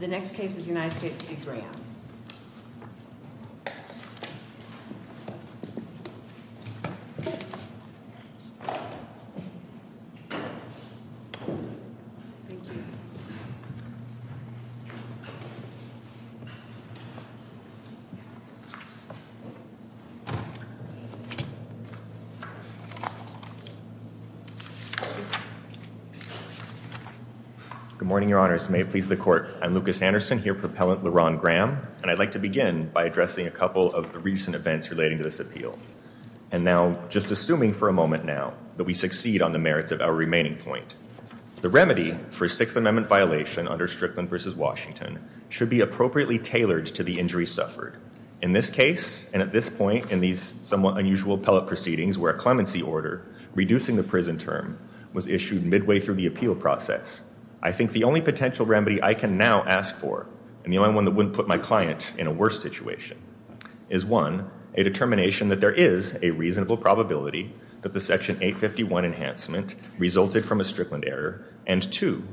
The next case is United States v. Graham. Good morning, your honors. May it please the court. I'm Lucas Anderson here for Appellant Leron Graham. And I'd like to begin by addressing a couple of the recent events relating to this appeal. And now just assuming for a moment now that we succeed on the merits of our remaining point. The remedy for Sixth Amendment violation under Strickland v. Washington should be appropriately tailored to the injuries suffered. In this case, and at this point in these somewhat unusual appellate proceedings where a clemency order, reducing the prison term, was issued midway through the appeal process, I think the only potential remedy I can now ask for, and the only one that wouldn't put my client in a worse situation, is one, a determination that there is a reasonable probability that the Section 851 enhancement resulted from a Strickland error, and two,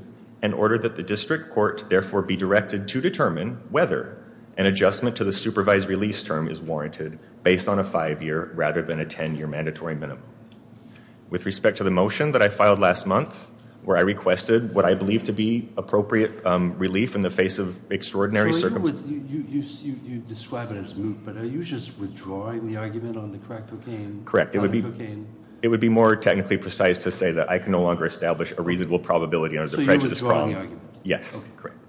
an order that the district court therefore be directed to determine whether an adjustment to the supervised release term is warranted based on a five-year rather than a ten-year mandatory minimum. With respect to the motion that I filed last month, where I requested what I believe to be appropriate relief in the face of extraordinary circumstances. You describe it as moot, but are you just withdrawing the argument on the crack cocaine? Correct. It would be more technically precise to say that I can no longer establish a reasonable probability under the prejudice problem. So you're withdrawing the argument? Yes.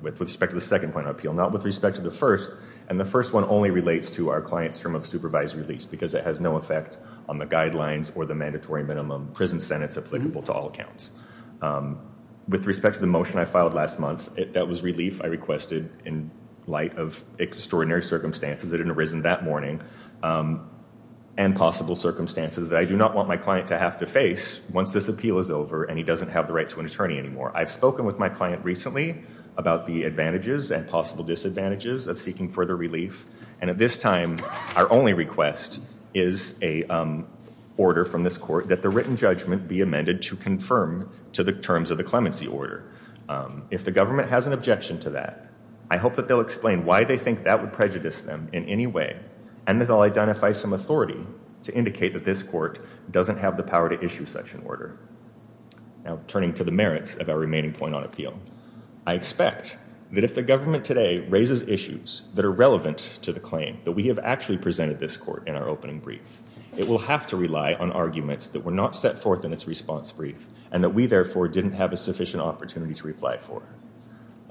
With respect to the second point of appeal. Not with respect to the first. And the first one only relates to our client's term of supervised release, because it has no effect on the guidelines or the mandatory minimum prison sentence applicable to all accounts. With respect to the motion I filed last month, that was relief I requested in light of extraordinary circumstances that had arisen that morning, and possible circumstances that I do not want my client to have to face once this appeal is over and he doesn't have the right to an attorney anymore. I've spoken with my client recently about the advantages and possible disadvantages of seeking further relief, and at this time, our only request is an order from this court that the written judgment be amended to confirm to the terms of the clemency order. If the government has an objection to that, I hope that they'll explain why they think that would prejudice them in any way, and that I'll identify some authority to indicate that this court doesn't have the power to issue such an order. Now, turning to the merits of our remaining point on appeal. I expect that if the government today raises issues that are relevant to the claim that we have actually presented this court in our opening brief, it will have to rely on arguments that were not set forth in its response brief, and that we, therefore, didn't have a sufficient opportunity to reply for.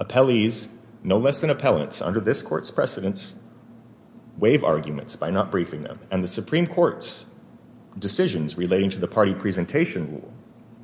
Appellees, no less than appellants, under this court's precedence, waive arguments by not briefing them, and the Supreme Court's decisions relating to the party presentation will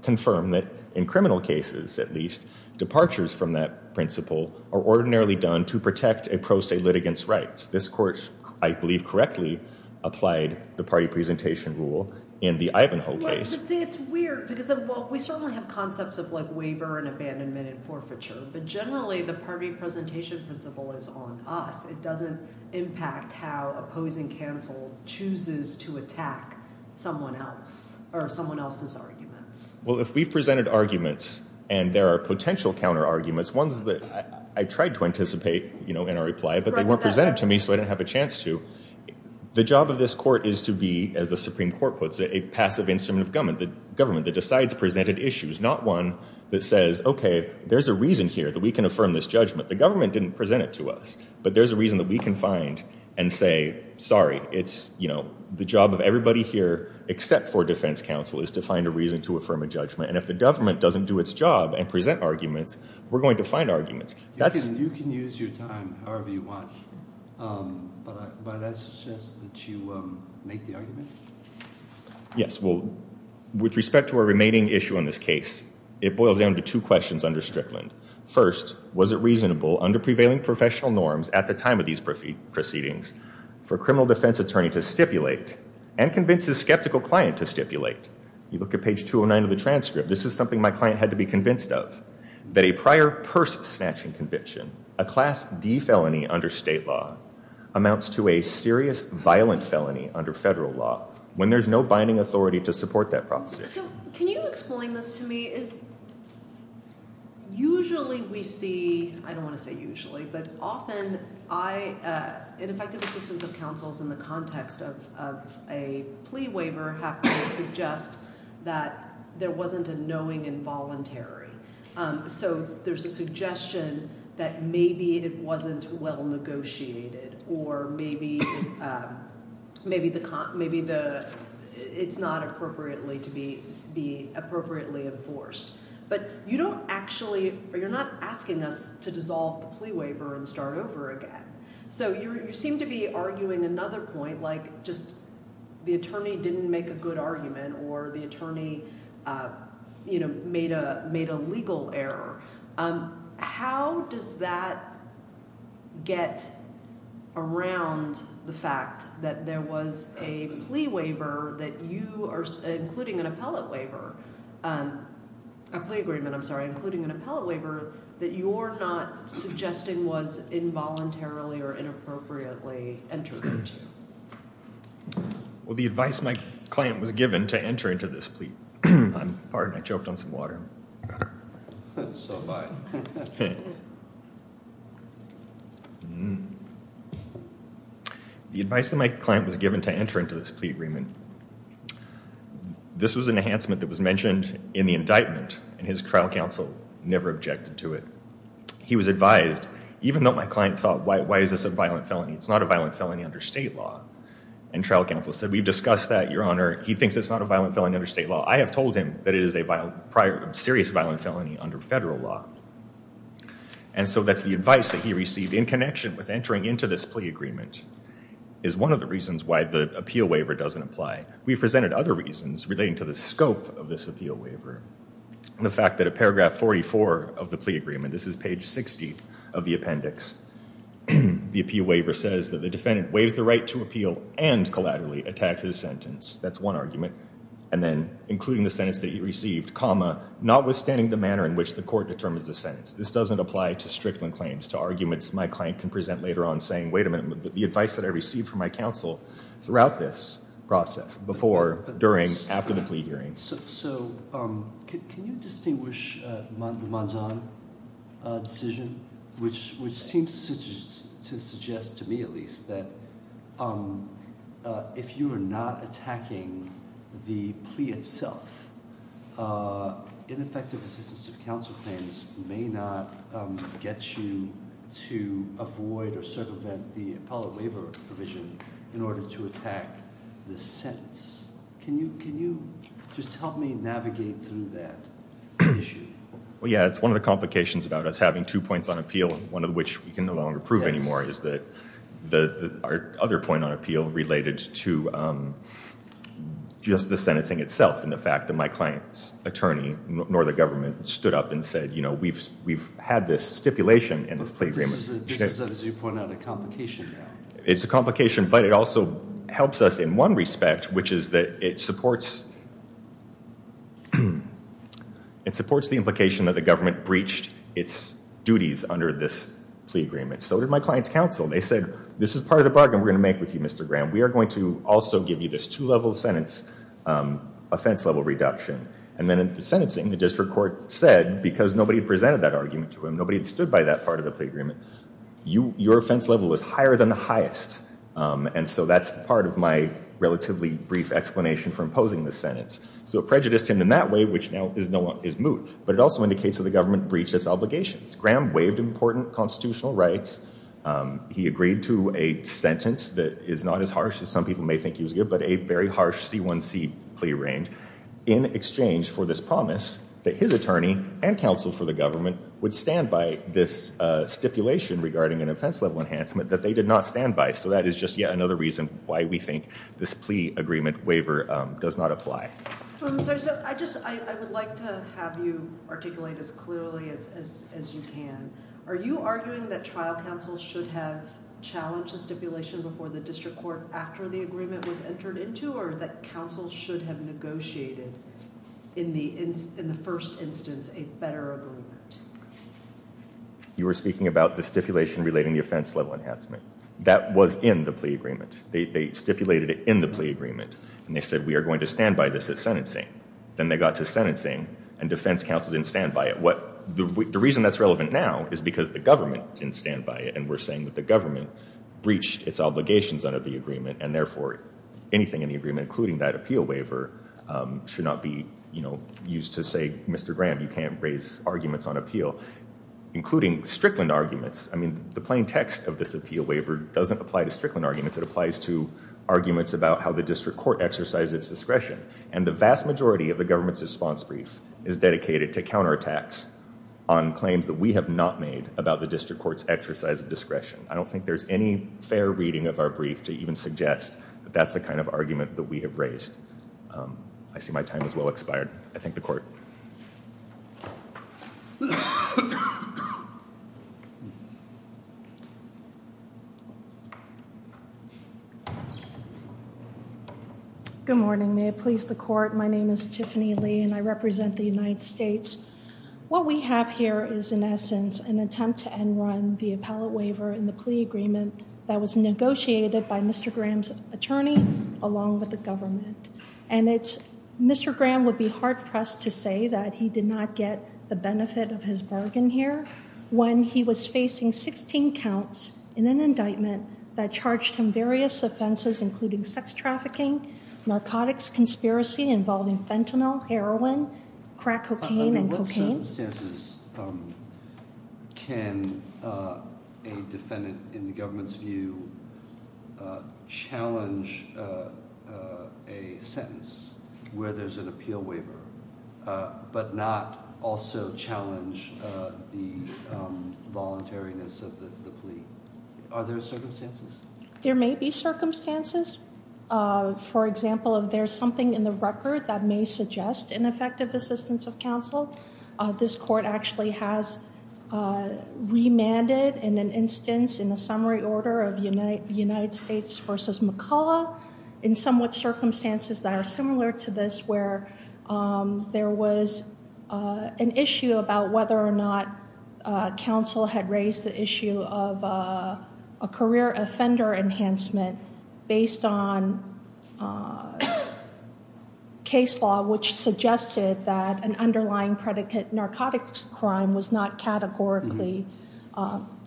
confirm that in criminal cases, at least, departures from that principle are ordinarily done to protect a pro se litigant's rights. This court, I believe correctly, applied the party presentation rule in the Ivanhoe case. It's weird, because we certainly have concepts of waiver and abandonment and forfeiture, but generally, the party presentation principle is on us. It doesn't impact how opposing counsel chooses to attack someone else or someone else's arguments. Well, if we've presented arguments, and there are potential counter-arguments, ones that I tried to anticipate, you know, in our reply, but they weren't presented to me, so I didn't have a chance to, the job of this court is to be, as the Supreme Court puts it, a passive instrument of government, the government that decides presented issues, not one that says, okay, there's a reason here that we can affirm this judgment. The government didn't present it to us, but there's a reason that we can find and say, sorry, it's, you know, the job of everybody here, except for defense counsel, is to find a reason to affirm a judgment, and if the government doesn't do its job and present arguments, we're going to find arguments. You can use your time however you want, but I suggest that you make the argument. Yes, well, with respect to our remaining issue in this case, it boils down to two questions under Strickland. First, was it reasonable under prevailing professional norms at the time of these proceedings for a criminal defense attorney to stipulate and convince his skeptical client to stipulate? You look at page 209 of the transcript. This is something my client had to be convinced of, that a prior purse-snatching conviction, a class D felony under state law, amounts to a serious violent felony under federal law when there's no binding authority to support that prophecy. So can you explain this to me? Usually we see, I don't want to say usually, but often I, in effective assistance of counsels in the context of a plea waiver, have to suggest that there wasn't a knowing involuntary. So there's a suggestion that maybe it wasn't well negotiated or maybe it's not appropriately to be appropriately enforced. But you don't actually, you're not asking us to dissolve the plea waiver and start over again. So you seem to be arguing another point, like just the attorney didn't make a good argument or the attorney made a legal error. How does that get around the fact that there was a plea waiver that you are, including an appellate waiver, a plea agreement, I'm sorry, including an appellate waiver that you're not suggesting was involuntarily or inappropriately entered into? Well, the advice my client was given to enter into this plea, pardon, I choked on some water. That's so bad. The advice that my client was given to enter into this plea agreement, this was an enhancement that was mentioned in the indictment and his trial counsel never objected to it. He was advised, even though my client thought, why is this a violent felony? It's not a violent felony under state law. And trial counsel said, we've discussed that, Your Honor. He thinks it's not a violent felony under state law. I have told him that it is a serious violent felony under federal law. And so that's the advice that he received in connection with entering into this plea agreement is one of the reasons why the appeal waiver doesn't apply. We've presented other reasons relating to the scope of this appeal waiver. The fact that at paragraph 44 of the plea agreement, this is page 60 of the appendix, the appeal waiver says that the defendant waives the right to appeal and collaterally attack his sentence. That's one argument. And then including the sentence that he received, comma, notwithstanding the manner in which the court determines the sentence. This doesn't apply to Strickland claims, to arguments my client can present later on saying, wait a minute, the advice that I received from my counsel throughout this process, before, during, after the plea hearing. So can you distinguish the Manzan decision, which seems to suggest, to me at least, that if you are not attacking the plea itself, ineffective assistance of counsel claims may not get you to avoid or circumvent the appellate waiver provision in order to attack the sentence. Can you just help me navigate through that issue? Well, yeah, it's one of the complications about us having two points on appeal, one of which we can no longer prove anymore, is that our other point on appeal related to just the sentencing itself and the fact that my client's attorney, nor the government, stood up and said, you know, we've had this stipulation in this plea agreement. This is, as you point out, a complication now. It's a complication, but it also helps us in one respect, which is that it supports the implication that the government breached its duties under this plea agreement. So did my client's counsel. They said, this is part of the bargain we're going to make with you, Mr. Graham. We are going to also give you this two-level sentence offense-level reduction. And then in the sentencing, the district court said, because nobody presented that argument to him, nobody had stood by that part of the plea agreement, your offense level is higher than the highest. And so that's part of my relatively brief explanation for imposing this sentence. So it prejudiced him in that way, which now is moot. But it also indicates that the government breached its obligations. Graham waived important constitutional rights. He agreed to a sentence that is not as harsh as some people may think he was going to get, but a very harsh C1C plea range in exchange for this promise that his attorney and counsel for the government would stand by this stipulation regarding an offense-level enhancement that they did not stand by. So that is just yet another reason why we think this plea agreement waiver does not apply. I would like to have you articulate as clearly as you can. Are you arguing that trial counsel should have challenged the stipulation before the district court after the agreement was entered into, or that counsel should have negotiated in the first instance a better agreement? You were speaking about the stipulation relating the offense-level enhancement. That was in the plea agreement. They stipulated it in the plea agreement, and they said, we are going to stand by this at sentencing. Then they got to sentencing, and defense counsel didn't stand by it. The reason that's relevant now is because the government didn't stand by it, and we're saying that the government breached its obligations under the agreement, and therefore anything in the agreement, including that appeal waiver, should not be used to say, Mr. Graham, you can't raise arguments on appeal, including Strickland arguments. I mean, the plain text of this appeal waiver doesn't apply to Strickland arguments. It applies to arguments about how the district court exercised its discretion, and the vast majority of the government's response brief is dedicated to counterattacks on claims that we have not made about the district court's exercise of discretion. I don't think there's any fair reading of our brief to even suggest that that's the kind of argument that we have raised. I see my time has well expired. I thank the court. Good morning. May it please the court, my name is Tiffany Lee, and I represent the United States. What we have here is, in essence, an attempt to end run the appellate waiver and the plea agreement that was negotiated by Mr. Graham's attorney along with the government. And Mr. Graham would be hard-pressed to say that he did not get the benefit of his bargain here when he was facing 16 counts in an indictment that charged him various offenses, including sex trafficking, narcotics conspiracy involving fentanyl, heroin, crack cocaine, and cocaine. Under what circumstances can a defendant, in the government's view, challenge a sentence where there's an appeal waiver, but not also challenge the voluntariness of the plea? Are there circumstances? There may be circumstances. For example, if there's something in the record that may suggest ineffective assistance of counsel, this court actually has remanded in an instance in the summary order of United States v. McCullough in somewhat circumstances that are similar to this where there was an issue about whether or not counsel had raised the issue of a career offender enhancement based on case law which suggested that an underlying predicate narcotics crime was not categorically...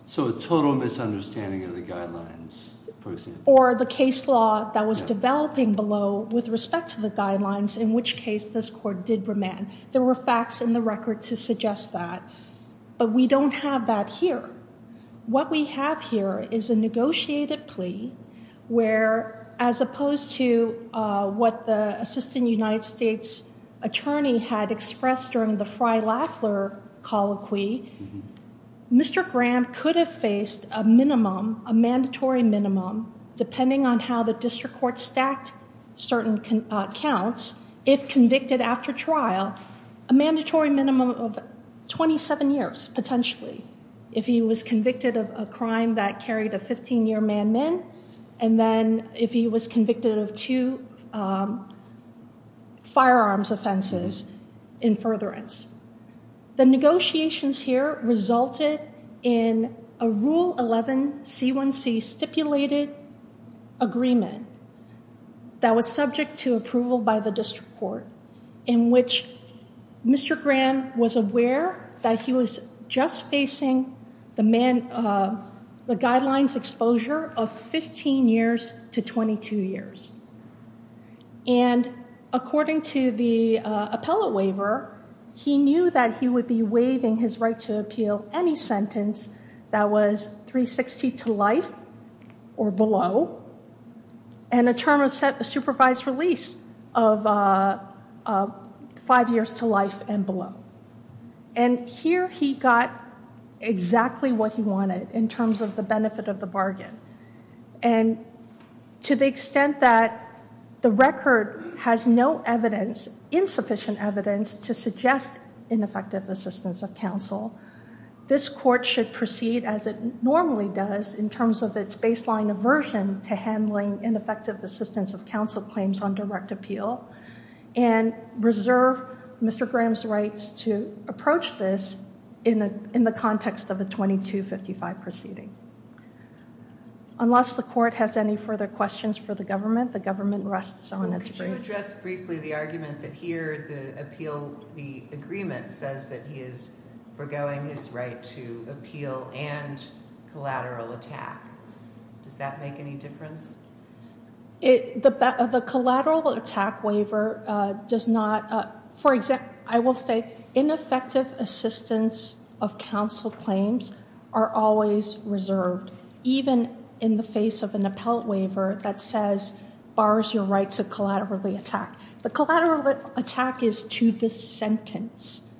So a total misunderstanding of the guidelines, for example. Or the case law that was developing below with respect to the guidelines, in which case this court did remand. There were facts in the record to suggest that. But we don't have that here. What we have here is a negotiated plea where, as opposed to what the assistant United States attorney had expressed during the Frey-Laffler colloquy, Mr. Graham could have faced a minimum, a mandatory minimum, depending on how the district court stacked certain counts, if convicted after trial, a mandatory minimum of 27 years, potentially, if he was convicted of a crime that carried a 15-year man-min, and then if he was convicted of two firearms offenses in furtherance. The negotiations here resulted in a Rule 11 C1C stipulated agreement that was subject to approval by the district court in which Mr. Graham was aware that he was just facing the guidelines exposure of 15 years to 22 years. And according to the appellate waiver, he knew that he would be waiving his right to appeal any sentence that was 360 to life or below and a term of supervised release of five years to life and below. And here he got exactly what he wanted in terms of the benefit of the bargain. And to the extent that the record has no evidence, insufficient evidence, to suggest ineffective assistance of counsel, this court should proceed as it normally does in terms of its baseline aversion to handling ineffective assistance of counsel claims on direct appeal and reserve Mr. Graham's rights to approach this in the context of a 2255 proceeding. Unless the court has any further questions for the government, the government rests on its brief. Can you address briefly the argument that here the appeal, the agreement, says that he is forgoing his right to appeal and collateral attack? Does that make any difference? The collateral attack waiver does not, for example, I will say ineffective assistance of counsel claims are always reserved even in the face of an appellate waiver that says bars your right to collaterally attack. The collateral attack is to this sentence.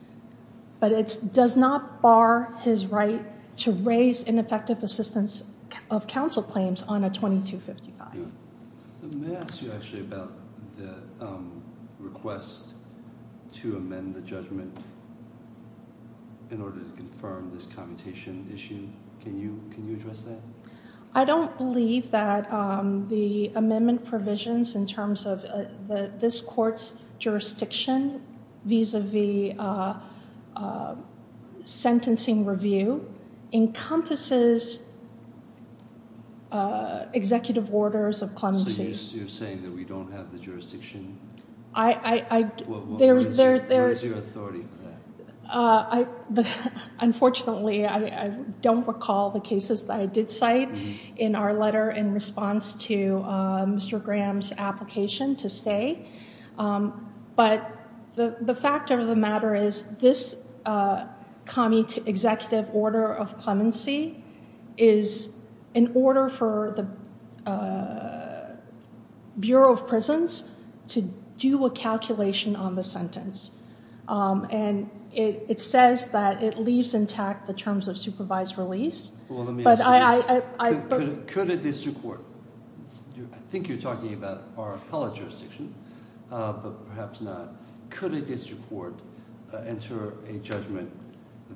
But it does not bar his right to raise ineffective assistance of counsel claims on a 2255. May I ask you actually about the request to amend the judgment in order to confirm this commutation issue? Can you address that? I don't believe that the amendment provisions in terms of this court's jurisdiction vis-a-vis sentencing review encompasses executive orders of clemency. So you're saying that we don't have the jurisdiction? Where is your authority on that? Unfortunately, I don't recall the cases that I did cite in our letter in response to Mr. Graham's application to stay. But the fact of the matter is this commutative executive order of clemency is in order for the Bureau of Prisons to do a calculation on the sentence. And it says that it leaves intact the terms of supervised release. I think you're talking about our appellate jurisdiction, but perhaps not. Could a district court enter a judgment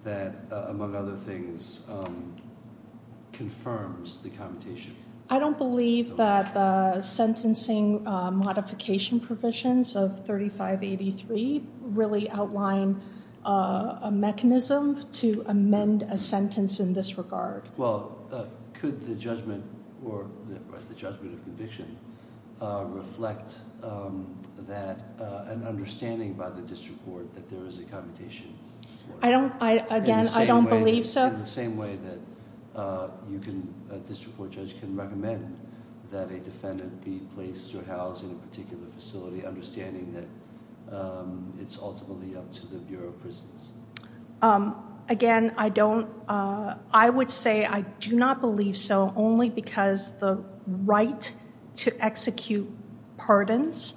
that, among other things, confirms the commutation? I don't believe that the sentencing modification provisions of 3583 really outline a mechanism to amend a sentence in this regard. Well, could the judgment of conviction reflect an understanding by the district court that there is a commutation order? Again, I don't believe so. In the same way that a district court judge can recommend that a defendant be placed or housed in a particular facility, understanding that it's ultimately up to the Bureau of Prisons? Again, I would say I do not believe so only because the right to execute pardons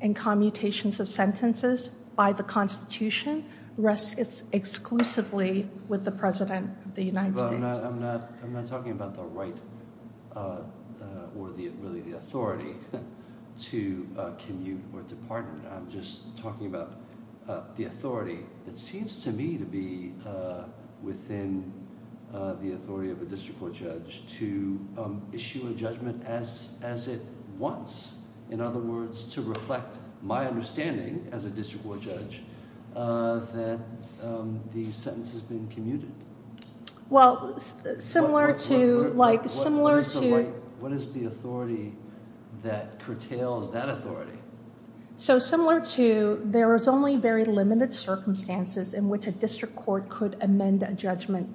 and commutations of sentences by the Constitution rests exclusively with the President of the United States. Well, I'm not talking about the right or really the authority to commute or to pardon. I'm just talking about the authority that seems to me to be within the authority of a district court judge to issue a judgment as it wants. In other words, to reflect my understanding as a district court judge that the sentence has been commuted. Well, similar to— What is the authority that curtails that authority? So similar to there is only very limited circumstances in which a district court could amend a judgment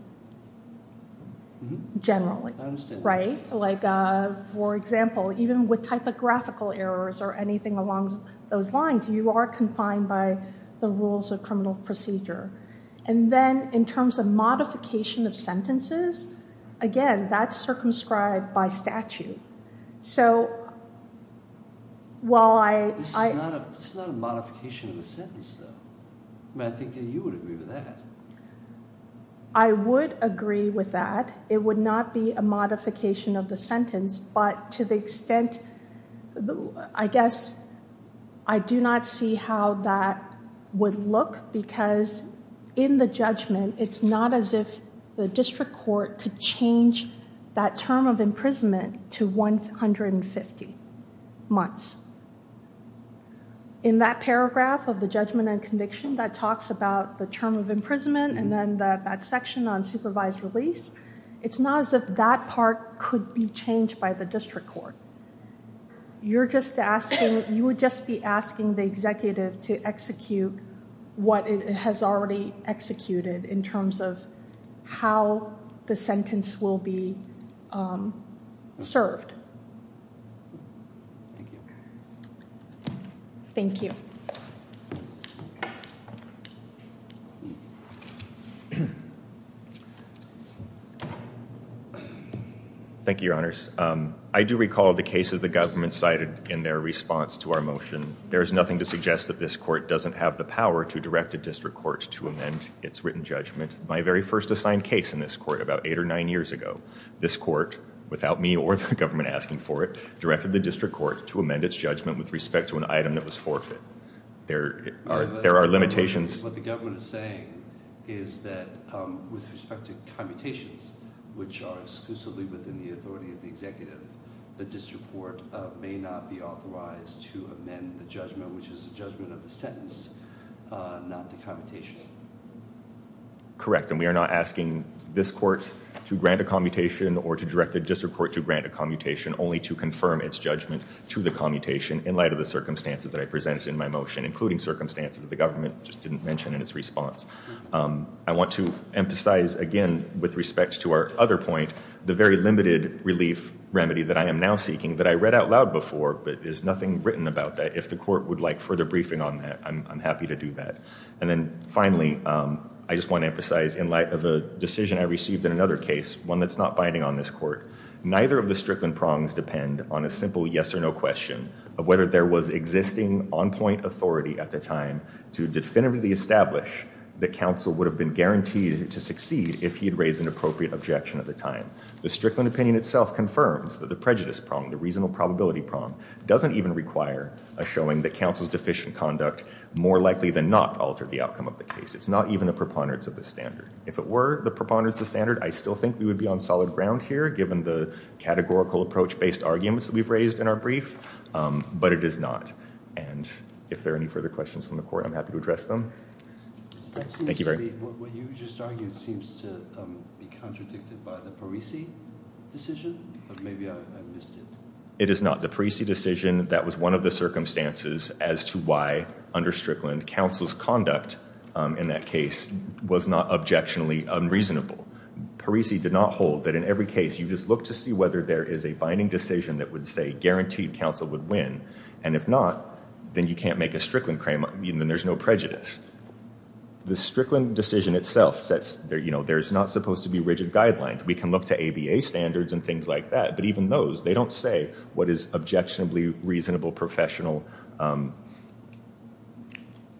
generally. I understand. Like, for example, even with typographical errors or anything along those lines, you are confined by the rules of criminal procedure. And then in terms of modification of sentences, again, that's circumscribed by statute. So while I— This is not a modification of a sentence, though. I mean, I think that you would agree with that. I would agree with that. It would not be a modification of the sentence. But to the extent—I guess I do not see how that would look because in the judgment, it's not as if the district court could change that term of imprisonment to 150 months. In that paragraph of the judgment and conviction that talks about the term of imprisonment and then that section on supervised release, it's not as if that part could be changed by the district court. You're just asking—you would just be asking the executive to execute what it has already executed in terms of how the sentence will be served. Thank you. Thank you. Thank you, Your Honors. I do recall the cases the government cited in their response to our motion. There is nothing to suggest that this court doesn't have the power to direct a district court to amend its written judgment. My very first assigned case in this court about eight or nine years ago, this court, without me or the government asking for it, directed the district court to amend its judgment with respect to an item that was forfeit. There are limitations— What the government is saying is that with respect to commutations, which are exclusively within the authority of the executive, the district court may not be authorized to amend the judgment, which is the judgment of the sentence, not the commutation. Correct, and we are not asking this court to grant a commutation or to direct the district court to grant a commutation, only to confirm its judgment to the commutation in light of the circumstances that I presented in my motion, including circumstances that the government just didn't mention in its response. I want to emphasize, again, with respect to our other point, the very limited relief remedy that I am now seeking that I read out loud before, but there's nothing written about that. If the court would like further briefing on that, I'm happy to do that. And then finally, I just want to emphasize, in light of a decision I received in another case, one that's not binding on this court, neither of the Strickland prongs depend on a simple yes or no question of whether there was existing on-point authority at the time to definitively establish that counsel would have been guaranteed to succeed if he had raised an appropriate objection at the time. The Strickland opinion itself confirms that the prejudice prong, the reasonable probability prong, doesn't even require a showing that counsel's deficient conduct more likely than not altered the outcome of the case. It's not even a preponderance of the standard. If it were the preponderance of the standard, I still think we would be on solid ground here, given the categorical approach-based arguments that we've raised in our brief, but it is not. And if there are any further questions from the court, I'm happy to address them. Thank you very much. What you just argued seems to be contradicted by the Parisi decision, but maybe I missed it. It is not. The Parisi decision, that was one of the circumstances as to why, under Strickland, counsel's conduct in that case was not objectionably unreasonable. Parisi did not hold that in every case, you just look to see whether there is a binding decision that would say guaranteed counsel would win. And if not, then you can't make a Strickland claim, then there's no prejudice. The Strickland decision itself says, you know, there's not supposed to be rigid guidelines. We can look to ABA standards and things like that, but even those, they don't say what is objectionably reasonable professional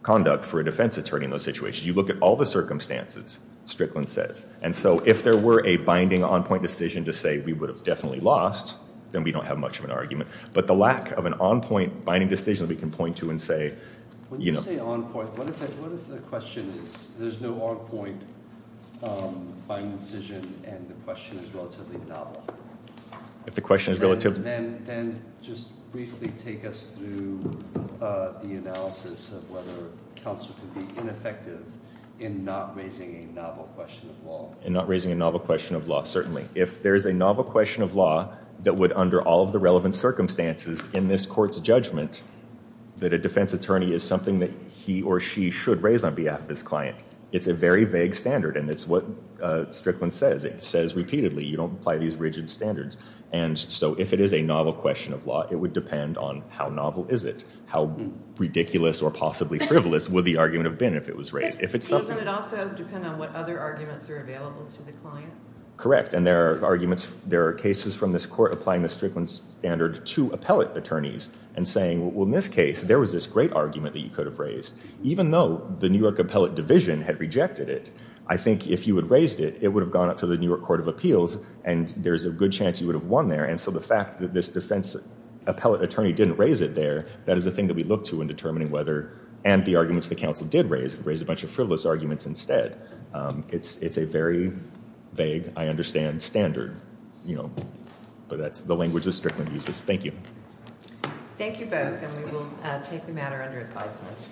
conduct for a defense attorney in those situations. You look at all the circumstances, Strickland says. And so if there were a binding on-point decision to say we would have definitely lost, then we don't have much of an argument. But the lack of an on-point binding decision we can point to and say, you know. When you say on-point, what if the question is there's no on-point binding decision and the question is relatively novel? If the question is relatively. Then just briefly take us through the analysis of whether counsel can be ineffective in not raising a novel question of law. In not raising a novel question of law, certainly. If there's a novel question of law that would, under all of the relevant circumstances in this court's judgment, that a defense attorney is something that he or she should raise on behalf of his client. It's a very vague standard, and it's what Strickland says. It says repeatedly, you don't apply these rigid standards. And so if it is a novel question of law, it would depend on how novel is it? How ridiculous or possibly frivolous would the argument have been if it was raised? If it's something. Doesn't it also depend on what other arguments are available to the client? Correct. And there are arguments. There are cases from this court applying the Strickland standard to appellate attorneys. And saying, well, in this case, there was this great argument that you could have raised. Even though the New York Appellate Division had rejected it, I think if you had raised it, it would have gone up to the New York Court of Appeals. And there's a good chance you would have won there. And so the fact that this defense appellate attorney didn't raise it there, that is a thing that we look to in determining whether. And the arguments the counsel did raise. Raised a bunch of frivolous arguments instead. It's a very vague, I understand, standard. But that's the language that Strickland uses. Thank you. Thank you both. And we will take the matter under advisement.